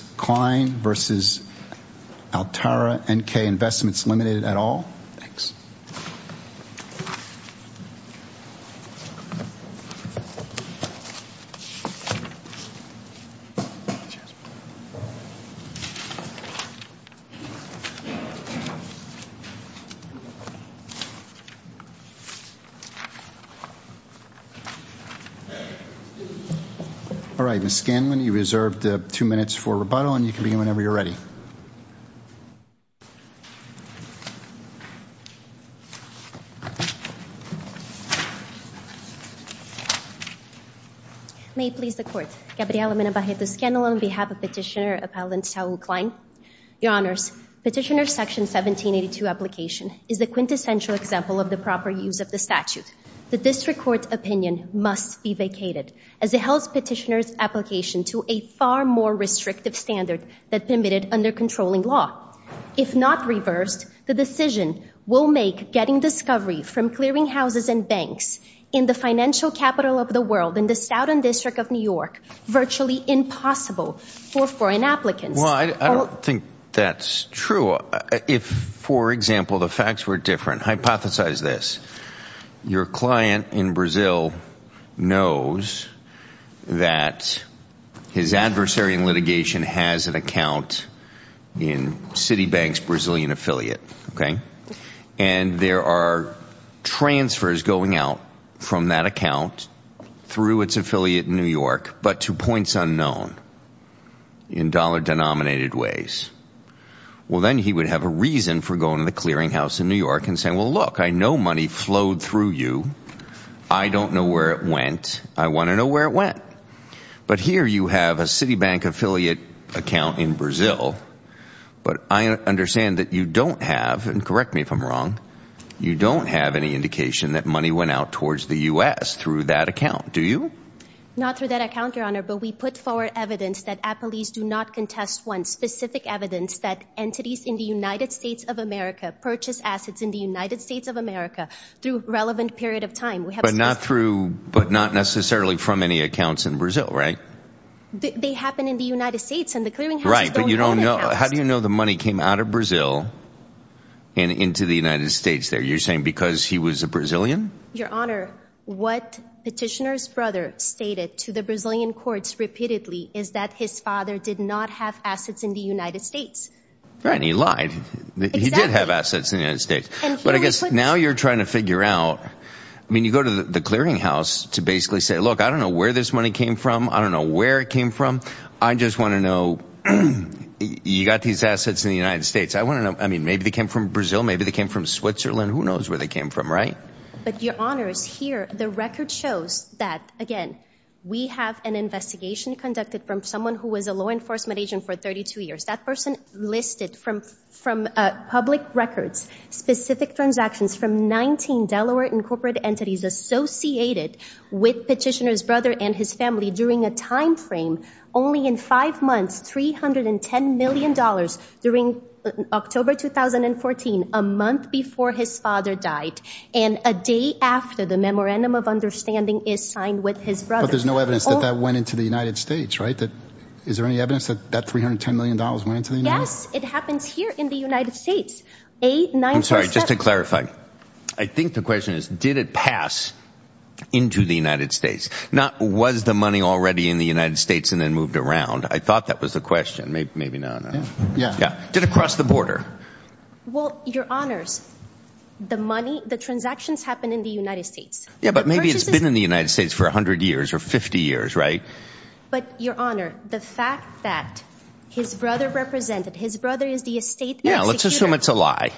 versus Altara N.K. Investments Limited et al. Thanks. All right, Ms. Scanlon, you reserved two minutes for rebuttal, and you can begin whenever you're ready. May it please the Court, Gabriella Menabarreto Scanlon on behalf of Petitioner Appellant Saul Klein. Your Honors, Petitioner's Section 1782 application is the quintessential example of the proper use of the statute. The District Court's opinion must be vacated, as it holds Petitioner's application to a far more restrictive standard than permitted under controlling law. If not reversed, the decision will make getting discovery from clearing houses and banks in the financial capital of the world in the Southern District of New York virtually impossible for foreign applicants. Well, I don't think that's true. If, for example, the facts were different, hypothesize this. Your client in Brazil knows that his adversary in litigation has an account in Citibank's Brazilian affiliate, okay? And there are transfers going out from that account through its affiliate in New York, but to points unknown in dollar-denominated ways. Well, then he would have a reason for going to the clearing house in New York and saying, well, look, I know money flowed through you. I don't know where it went. I want to know where it went. But here you have a Citibank affiliate account in Brazil, but I understand that you don't have, and correct me if I'm wrong, you don't have any indication that money went out towards the U.S. through that account, do you? Not through that account, Your Honor, but we put forward evidence that appellees do not contest one specific evidence that entities in the United States of America purchase assets in the United States of America through relevant period of time. We have- But not necessarily from any accounts in Brazil, right? They happen in the United States, and the clearing houses don't have accounts. Right, but how do you know the money came out of Brazil and into the United States there? You're saying because he was a Brazilian? Your Honor, what petitioner's brother stated to the Brazilian courts repeatedly is that his father did not have assets in the United States. Right, and he lied. He did have assets in the United States. But I guess now you're trying to figure out, I mean, you go to the clearing house to basically say, look, I don't know where this money came from, I don't know where it came from, I just want to know, you got these assets in the United States, I want to know, I mean, maybe they came from Brazil, maybe they came from Switzerland, who knows where they came from, right? But Your Honor, here, the record shows that, again, we have an investigation conducted from someone who was a law enforcement agent for 32 years. That person listed from public records specific transactions from 19 Delaware and corporate entities associated with petitioner's brother and his family during a timeframe only in five months, $310 million during October 2014, a month before his father died, and a day after the memorandum of understanding is signed with his brother. But there's no evidence that that went into the United States, right? Is there any evidence that that $310 million went into the United States? Yes, it happens here in the United States. I'm sorry, just to clarify, I think the question is, did it pass into the United States? Not was the money already in the United States and then moved around? I thought that was the question, maybe not. Yeah. Did it cross the border? Well, Your Honors, the money, the transactions happen in the United States. Yeah, but maybe it's been in the United States for 100 years or 50 years, right? But Your Honor, the fact that his brother represented, his brother is the estate executor. Yeah, let's assume it's a lie.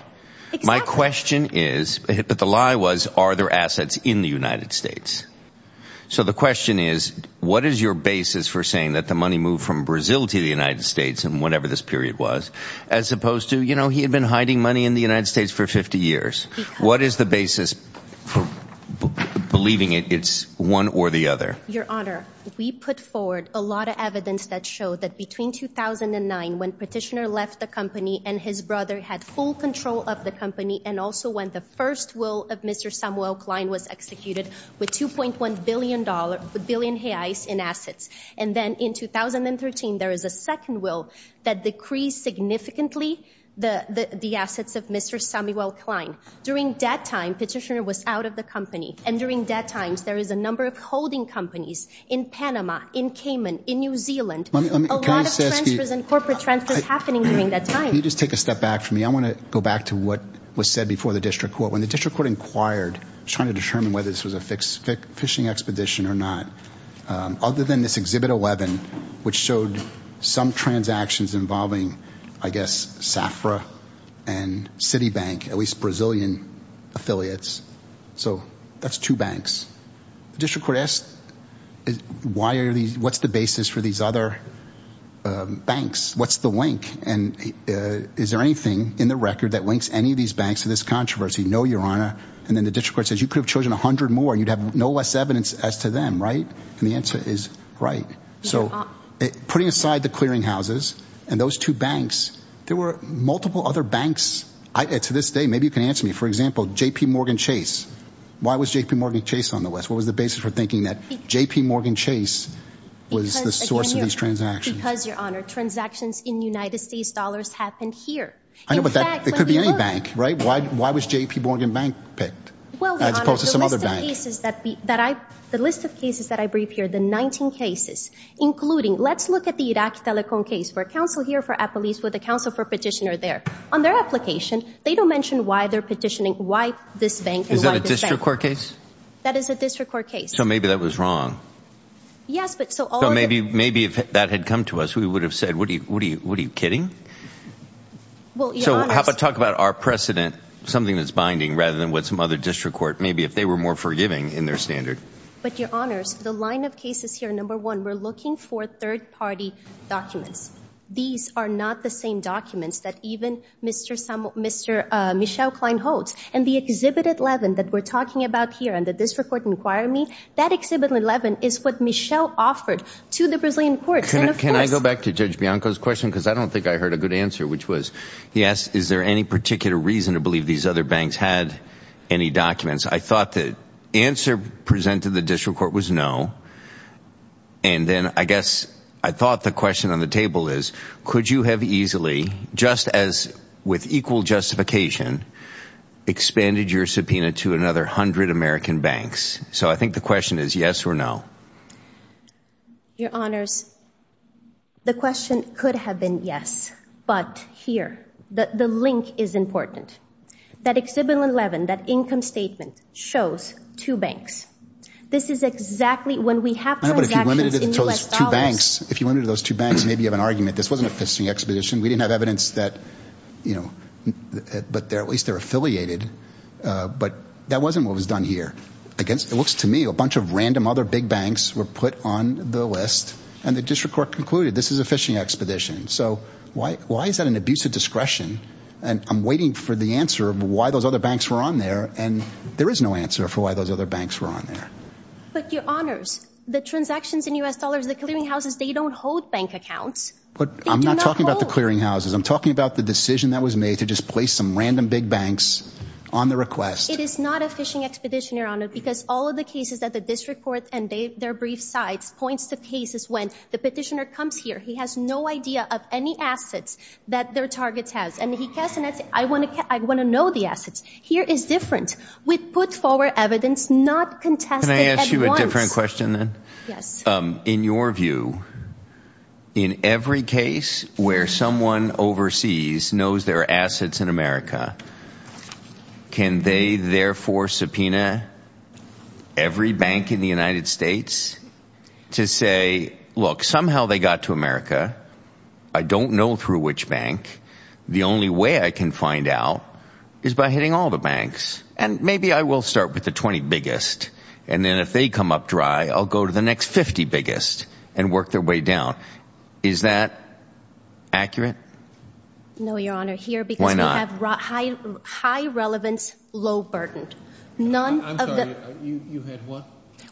My question is, but the lie was, are there assets in the United States? So the question is, what is your basis for saying that the money moved from Brazil to the United States in whatever this period was, as opposed to, you know, he had been hiding money in the United States for 50 years. What is the basis for believing it's one or the other? Your Honor, we put forward a lot of evidence that showed that between 2009, when Petitioner left the company and his brother had full control of the company and also when the first will of Mr. Samuel Klein was executed with $2.1 billion, with billion reais in assets. And then in 2013, there is a second will that decreased significantly the assets of Mr. Samuel Klein. During that time, Petitioner was out of the company. And during that time, there is a number of holding companies in Panama, in Cayman, in New Zealand. A lot of transfers and corporate transfers happening during that time. Can you just take a step back for me? I want to go back to what was said before the district court. When the district court inquired, trying to determine whether this was a phishing expedition or not, other than this Exhibit 11, which showed some transactions involving, I guess, Safra and Citibank, at least Brazilian affiliates. So that's two banks. The district court asked, what's the basis for these other banks? What's the link? And is there anything in the record that links any of these banks to this controversy? No, Your Honor. And then the district court says, you could have chosen a hundred more and you'd have no less evidence as to them, right? And the answer is, right. So putting aside the clearing houses and those two banks, there were multiple other banks. To this day, maybe you can answer me. For example, JPMorgan Chase. Why was JPMorgan Chase on the list? What was the basis for thinking that JPMorgan Chase was the source of these transactions? Because Your Honor, transactions in United States dollars happened here. I know, but that could be any bank, right? Why was JPMorgan Bank picked as opposed to some other bank? The list of cases that I briefed here, the 19 cases, including, let's look at the Iraq telecom case, where counsel here for Apple East with the counsel for petitioner there. On their application, they don't mention why they're petitioning, why this bank and why this bank. Is that a district court case? That is a district court case. So maybe that was wrong. Yes, but so all... Maybe if that had come to us, we would have said, what are you, what are you, what are you kidding? So how about talk about our precedent, something that's binding rather than what some other district court, maybe if they were more forgiving in their standard. But Your Honors, the line of cases here, number one, we're looking for third party documents. These are not the same documents that even Mr. Michel Klein holds. And the Exhibit 11 that we're talking about here and the district court inquiry, that Exhibit 11 is what Michel offered to the Brazilian courts. Can I go back to Judge Bianco's question, because I don't think I heard a good answer, which was, he asked, is there any particular reason to believe these other banks had any documents? I thought the answer presented to the district court was no. And then I guess I thought the question on the table is, could you have easily, just as with equal justification, expanded your subpoena to another hundred American banks? So I think the question is yes or no. Your Honors, the question could have been yes, but here, the link is important. That Exhibit 11, that income statement shows two banks. This is exactly, when we have transactions in U.S. dollars. If you limited it to those two banks, maybe you have an argument. This wasn't a fishing expedition. We didn't have evidence that, but at least they're affiliated, but that wasn't what was done here. It looks to me, a bunch of random other big banks were put on the list, and the district court concluded, this is a fishing expedition. So why is that an abuse of discretion? And I'm waiting for the answer of why those other banks were on there, and there is no answer for why those other banks were on there. But Your Honors, the transactions in U.S. dollars, the clearinghouses, they don't hold bank accounts. They do not hold. I'm not talking about the clearinghouses. I'm talking about the decision that was made to just place some random big banks on the request. It is not a fishing expedition, Your Honor, because all of the cases that the district court and their brief sites points to cases when the petitioner comes here, he has no idea of any assets that their target has, and he casts an asset, I want to know the Here is different. He casts an asset with put forward evidence not contested at once. Can I ask you a different question then? In your view, in every case where someone overseas knows there are assets in America, can they therefore subpoena every bank in the United States to say, look, somehow they got to America, I don't know through which bank, the only way I can find out is by hitting all the banks, and maybe I will start with the 20 biggest, and then if they come up dry, I'll go to the next 50 biggest and work their way down. Is that accurate? No, Your Honor, here, because we have high relevance, low burden.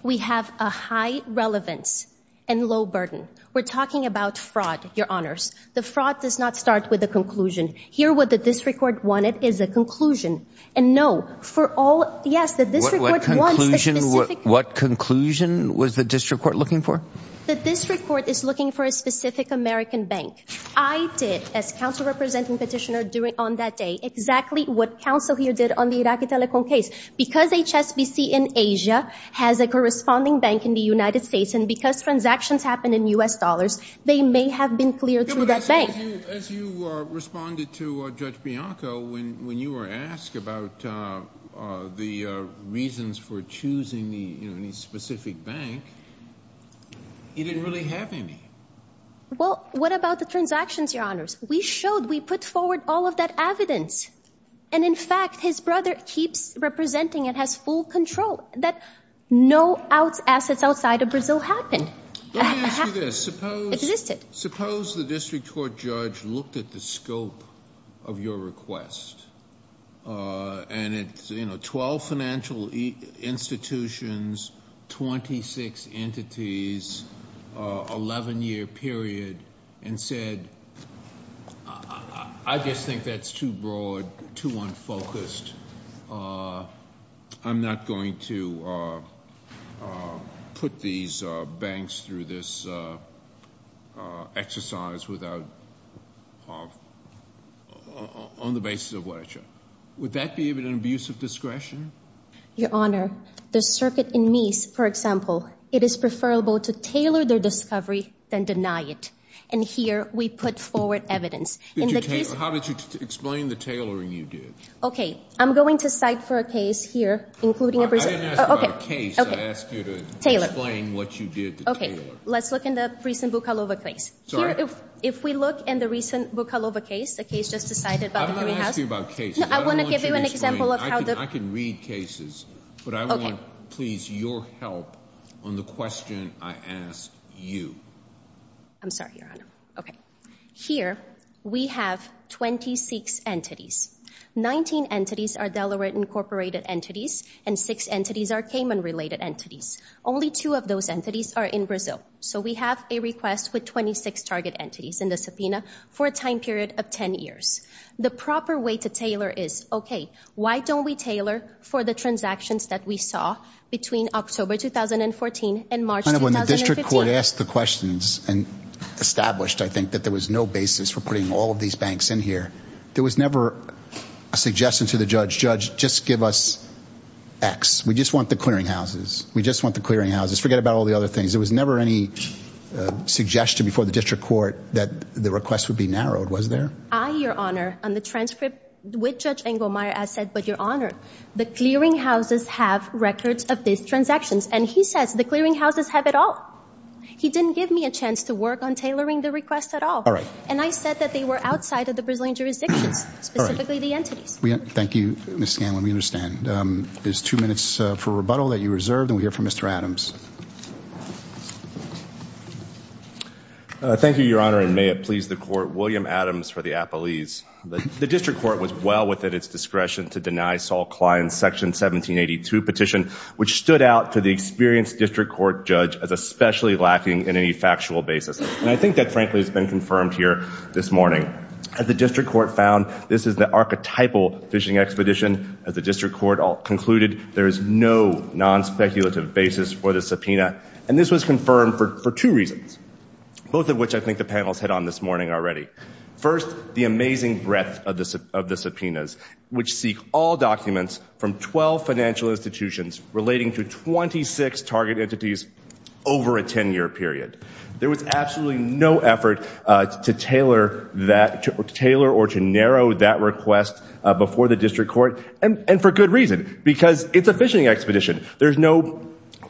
We have a high relevance and low burden. We're talking about fraud, Your Honors. The fraud does not start with a conclusion. Here, what the district court wanted is a conclusion. And no, for all, yes, the district court wants a specific What conclusion was the district court looking for? The district court is looking for a specific American bank. I did, as counsel representing petitioner on that day, exactly what counsel here did on the Iraqi Telecom case. Because HSBC in Asia has a corresponding bank in the United States, and because transactions happen in U.S. dollars, they may have been cleared through that bank. As you responded to Judge Bianco, when you were asked about the reasons for choosing the specific bank, you didn't really have any. Well, what about the transactions, Your Honors? We showed, we put forward all of that evidence. And in fact, his brother keeps representing and has full control that no assets outside of Brazil happened. Let me ask you this. Existed. Suppose the district court judge looked at the scope of your request, and it's, you know, 12 financial institutions, 26 entities, 11 year period, and said, I just think that's too broad, too unfocused. I'm not going to put these banks through this exercise without, on the basis of ledger. Would that be an abuse of discretion? Your Honor, the circuit in Mies, for example, it is preferable to tailor their discovery than deny it. And here, we put forward evidence. In the case— How did you explain the tailoring you did? Okay. I'm going to cite for a case here, including a— I didn't ask about a case. I asked you to explain what you did to tailor. Let's look in the recent Bukalova case. Sorry. Here, if we look in the recent Bukalova case, a case just decided by the jury house— I'm not asking about cases. I don't want you to explain. No, I want to give you an example of how the— I can read cases. Okay. But I want, please, your help on the question I ask you. I'm sorry, Your Honor. Okay. Here, we have 26 entities. 19 entities are Delaware Incorporated entities, and 6 entities are Cayman-related entities. Only 2 of those entities are in Brazil. So, we have a request with 26 target entities in the subpoena for a time period of 10 years. The proper way to tailor is, okay, why don't we tailor for the transactions that we saw between October 2014 and March 2015? Your Honor, when the district court asked the questions and established, I think, that there was no basis for putting all of these banks in here, there was never a suggestion to the judge, judge, just give us X. We just want the clearinghouses. We just want the clearinghouses. Forget about all the other things. There was never any suggestion before the district court that the requests would be narrowed, was there? I, Your Honor, on the transcript with Judge Engelmeyer, I said, but Your Honor, the clearinghouses have records of these transactions. And he says the clearinghouses have it all. He didn't give me a chance to work on tailoring the request at all. And I said that they were outside of the Brazilian jurisdictions, specifically the entities. Thank you, Ms. Scanlon. We understand. There's two minutes for rebuttal that you reserved, and we'll hear from Mr. Adams. Thank you, Your Honor, and may it please the Court, William Adams for the appellees. The district court was well within its discretion to deny Saul Klein's Section 1782 petition, which stood out to the experienced district court judge as especially lacking in any factual basis. And I think that, frankly, has been confirmed here this morning. As the district court found, this is the archetypal fishing expedition. As the district court concluded, there is no non-speculative basis for the subpoena. And this was confirmed for two reasons, both of which I think the panels hit on this morning already. First, the amazing breadth of the subpoenas, which seek all documents from 12 financial institutions relating to 26 target entities over a 10-year period. There was absolutely no effort to tailor or to narrow that request before the district court, and for good reason, because it's a fishing expedition. There's no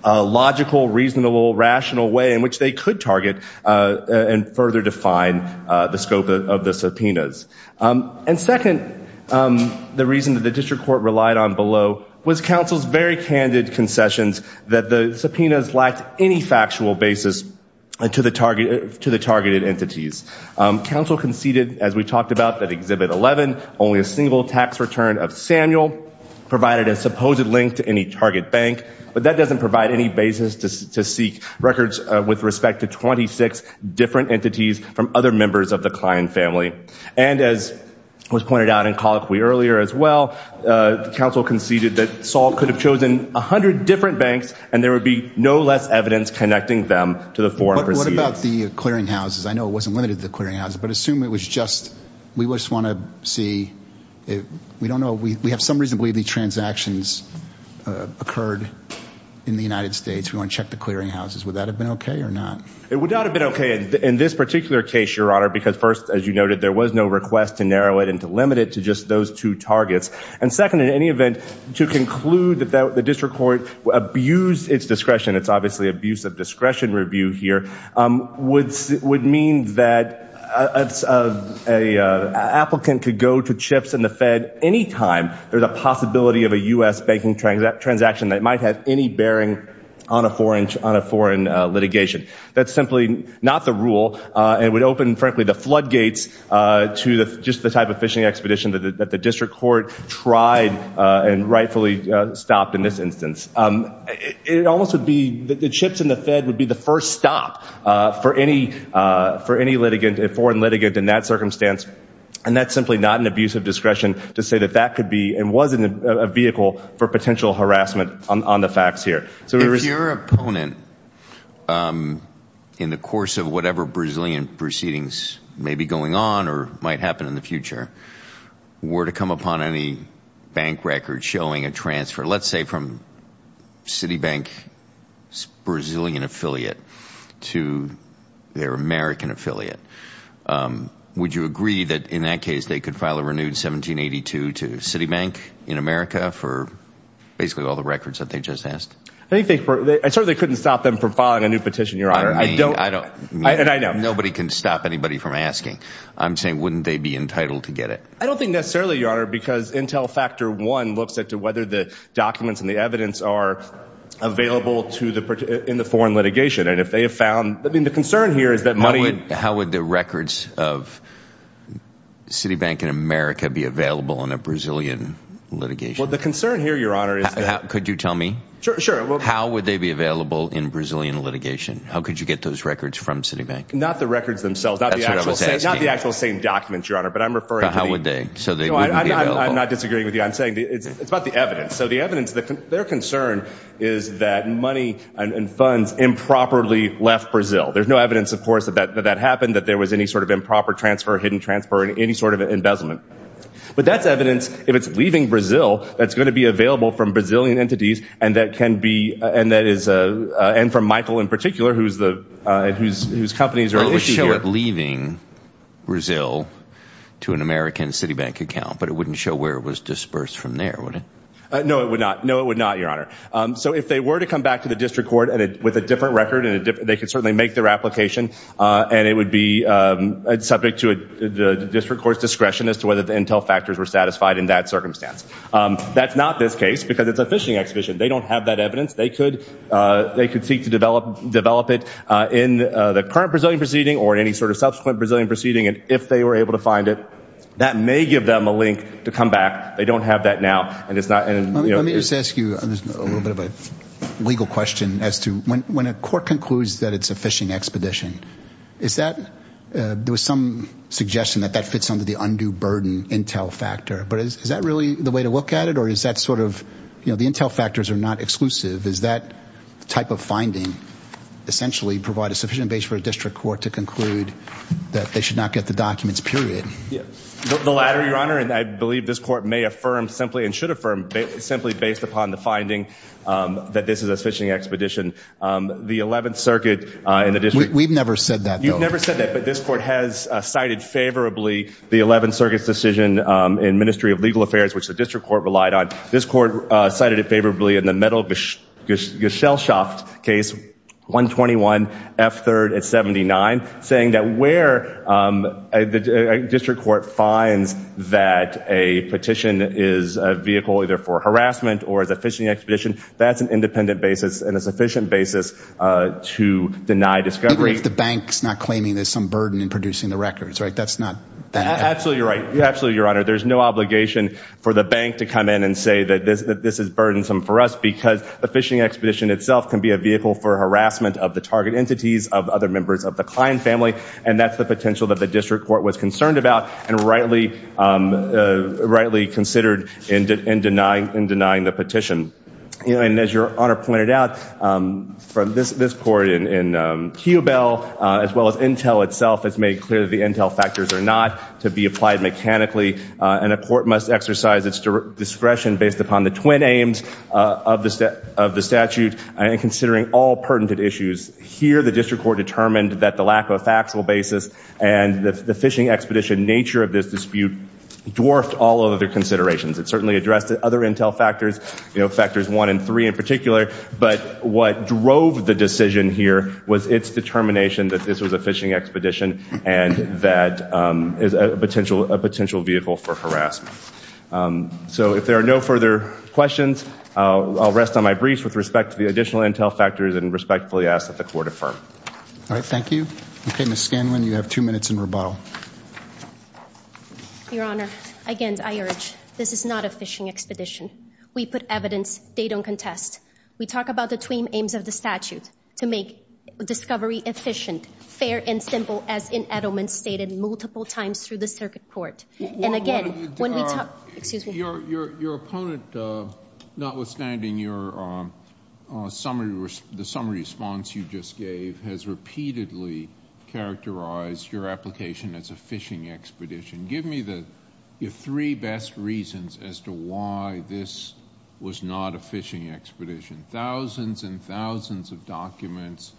logical, reasonable, rational way in which they could target and further define the scope of the subpoenas. And second, the reason that the district court relied on below was counsel's very candid concessions that the subpoenas lacked any factual basis to the targeted entities. Counsel conceded, as we talked about, that Exhibit 11, only a single tax return of Samuel, provided a supposed link to any target bank, but that doesn't provide any basis to seek records with respect to 26 different entities from other members of the Klein family. And as was pointed out in Colloquy earlier as well, the counsel conceded that Saul could have chosen 100 different banks, and there would be no less evidence connecting them to the foreign proceedings. But what about the clearinghouses? I know it wasn't limited to the clearinghouses, but assume it was just, we just want to see, we don't know, we have some reason to believe these transactions occurred in the United States. We want to check the clearinghouses. Would that have been okay or not? It would not have been okay in this particular case, Your Honor, because first, as you noted, there was no request to narrow it and to limit it to just those two targets. And second, in any event, to conclude that the district court abused its discretion, it's obviously abuse of discretion review here, would mean that an applicant could go to chips in the Fed anytime there's a possibility of a U.S. banking transaction that might have any bearing on a foreign litigation. That's simply not the rule, and would open, frankly, the floodgates to just the type of phishing expedition that the district court tried and rightfully stopped in this instance. It almost would be, the chips in the Fed would be the first stop for any foreign litigant in that circumstance, and that's simply not an abuse of discretion to say that that could be and was a vehicle for potential harassment on the facts here. If your opponent, in the course of whatever Brazilian proceedings may be going on or might happen in the future, were to come upon any bank record showing a transfer, let's say from Citibank's Brazilian affiliate to their American affiliate, would you agree that in that case they could file a renewed 1782 to Citibank in America for basically all the records that they just asked? I certainly couldn't stop them from filing a new petition, your honor. Nobody can stop anybody from asking. I'm saying, wouldn't they be entitled to get it? I don't think necessarily, your honor, because Intel Factor 1 looks at whether the documents and the evidence are available in the foreign litigation, and if they have found, I mean, the concern here is that money... How would the records of Citibank in America be available in a Brazilian litigation? The concern here, your honor, is that... Could you tell me? Sure. How would they be available in Brazilian litigation? How could you get those records from Citibank? Not the records themselves. That's what I was asking. Not the actual same documents, your honor. But I'm referring to the... But how would they? So they wouldn't be available? I'm not disagreeing with you. I'm saying it's about the evidence. So the evidence, their concern is that money and funds improperly left Brazil. There's no evidence, of course, that that happened, that there was any sort of improper transfer, hidden transfer, or any sort of embezzlement. But that's evidence. If it's leaving Brazil, that's going to be available from Brazilian entities, and that can be... And that is... And from Michael in particular, whose companies are listed here. It would show it leaving Brazil to an American Citibank account, but it wouldn't show where it was dispersed from there, would it? No, it would not. No, it would not, your honor. So if they were to come back to the district court with a different record, they could certainly make their application, and it would be subject to the district court's discretion as to whether the intel factors were satisfied in that circumstance. That's not this case, because it's a phishing exhibition. They don't have that evidence. They could seek to develop it in the current Brazilian proceeding, or any sort of subsequent Brazilian proceeding, and if they were able to find it, that may give them a link to come back. They don't have that now, and it's not... Let me just ask you a little bit of a legal question as to when a court concludes that it's a phishing expedition, is that... There was some suggestion that that fits under the undue burden intel factor, but is that really the way to look at it, or is that sort of... The intel factors are not exclusive. Is that type of finding essentially provide a sufficient base for a district court to conclude that they should not get the documents, period? The latter, Your Honor, and I believe this court may affirm simply, and should affirm simply based upon the finding that this is a phishing expedition. The 11th Circuit, in addition... We've never said that, though. You've never said that, but this court has cited favorably the 11th Circuit's decision in Ministry of Legal Affairs, which the district court relied on. This court cited it favorably in the Metal Geschelschaft case, 121 F3rd at 79, saying that where a district court finds that a petition is a vehicle either for harassment or as a phishing expedition, that's an independent basis and a sufficient basis to deny discovery. Even if the bank's not claiming there's some burden in producing the records, right? That's not... Absolutely right. Absolutely, Your Honor. There's no obligation for the bank to come in and say that this is burdensome for us, because the phishing expedition itself can be a vehicle for harassment of the target and family, and that's the potential that the district court was concerned about, and rightly considered in denying the petition. And as Your Honor pointed out, from this court in Keogh Bell, as well as Intel itself, it's made clear that the Intel factors are not to be applied mechanically, and a court must exercise its discretion based upon the twin aims of the statute, and considering all pertinent issues. Here, the district court determined that the lack of a factual basis and the phishing expedition nature of this dispute dwarfed all other considerations. It certainly addressed other Intel factors, you know, factors 1 and 3 in particular, but what drove the decision here was its determination that this was a phishing expedition and that is a potential vehicle for harassment. So if there are no further questions, I'll rest on my briefs with respect to the additional Intel factors and respectfully ask that the court affirm. All right, thank you. Okay, Ms. Scanlon, you have two minutes in rebuttal. Your Honor, again, I urge. This is not a phishing expedition. We put evidence. They don't contest. We talk about the twin aims of the statute to make discovery efficient, fair, and simple as in Edelman stated multiple times through the circuit court. Your opponent, notwithstanding the summary response you just gave, has repeatedly characterized your application as a phishing expedition. Give me your three best reasons as to why this was not a phishing expedition. Thousands and thousands of documents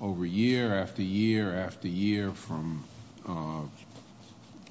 over year after year after year from...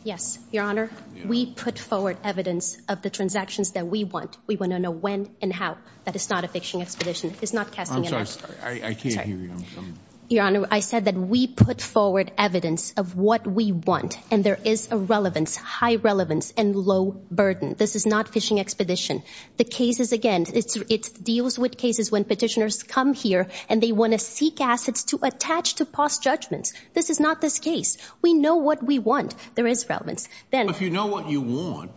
Yes, Your Honor. We put forward evidence of the transactions that we want. We want to know when and how. That is not a phishing expedition. It's not casting... I can't hear you. I'm sorry. Your Honor, I said that we put forward evidence of what we want and there is a relevance, high relevance, and low burden. This is not phishing expedition. The cases, again, it deals with cases when petitioners come here and they want to seek assets to attach to past judgments. This is not this case. We know what we want. There is relevance. Then... If you know what you want,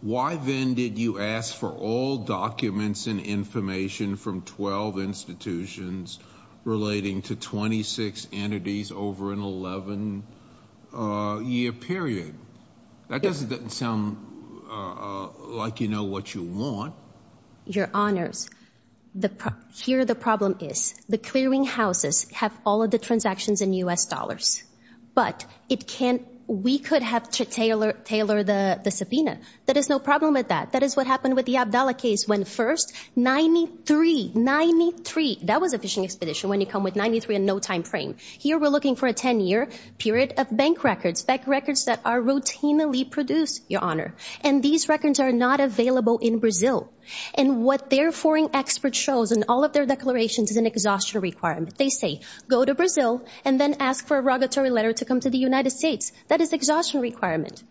why then did you ask for all documents and information from 12 institutions relating to 26 entities over an 11-year period? That doesn't sound like you know what you want. Your Honors, here the problem is the clearinghouses have all of the transactions in U.S. dollars, but it can't... We could have to tailor the subpoena. That is no problem with that. That is what happened with the Abdala case when first, 93, 93, that was a phishing expedition when you come with 93 in no time frame. Here we're looking for a 10-year period of bank records, bank records that are routinely produced, Your Honor, and these records are not available in Brazil. And what their foreign expert shows in all of their declarations is an exhaustion requirement. They say, go to Brazil and then ask for a regulatory letter to come to the United States. That is exhaustion requirement.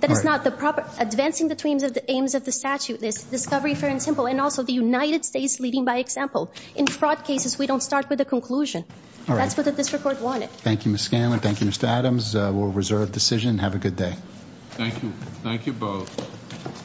That is not the proper... Advancing the aims of the statute is discovery, fair and simple, and also the United States leading by example. In fraud cases, we don't start with a conclusion. That's what the district court wanted. Thank you, Ms. Scanlon. Thank you, Mr. Adams. We'll reserve the decision. Have a good day. Thank you. Thank you both.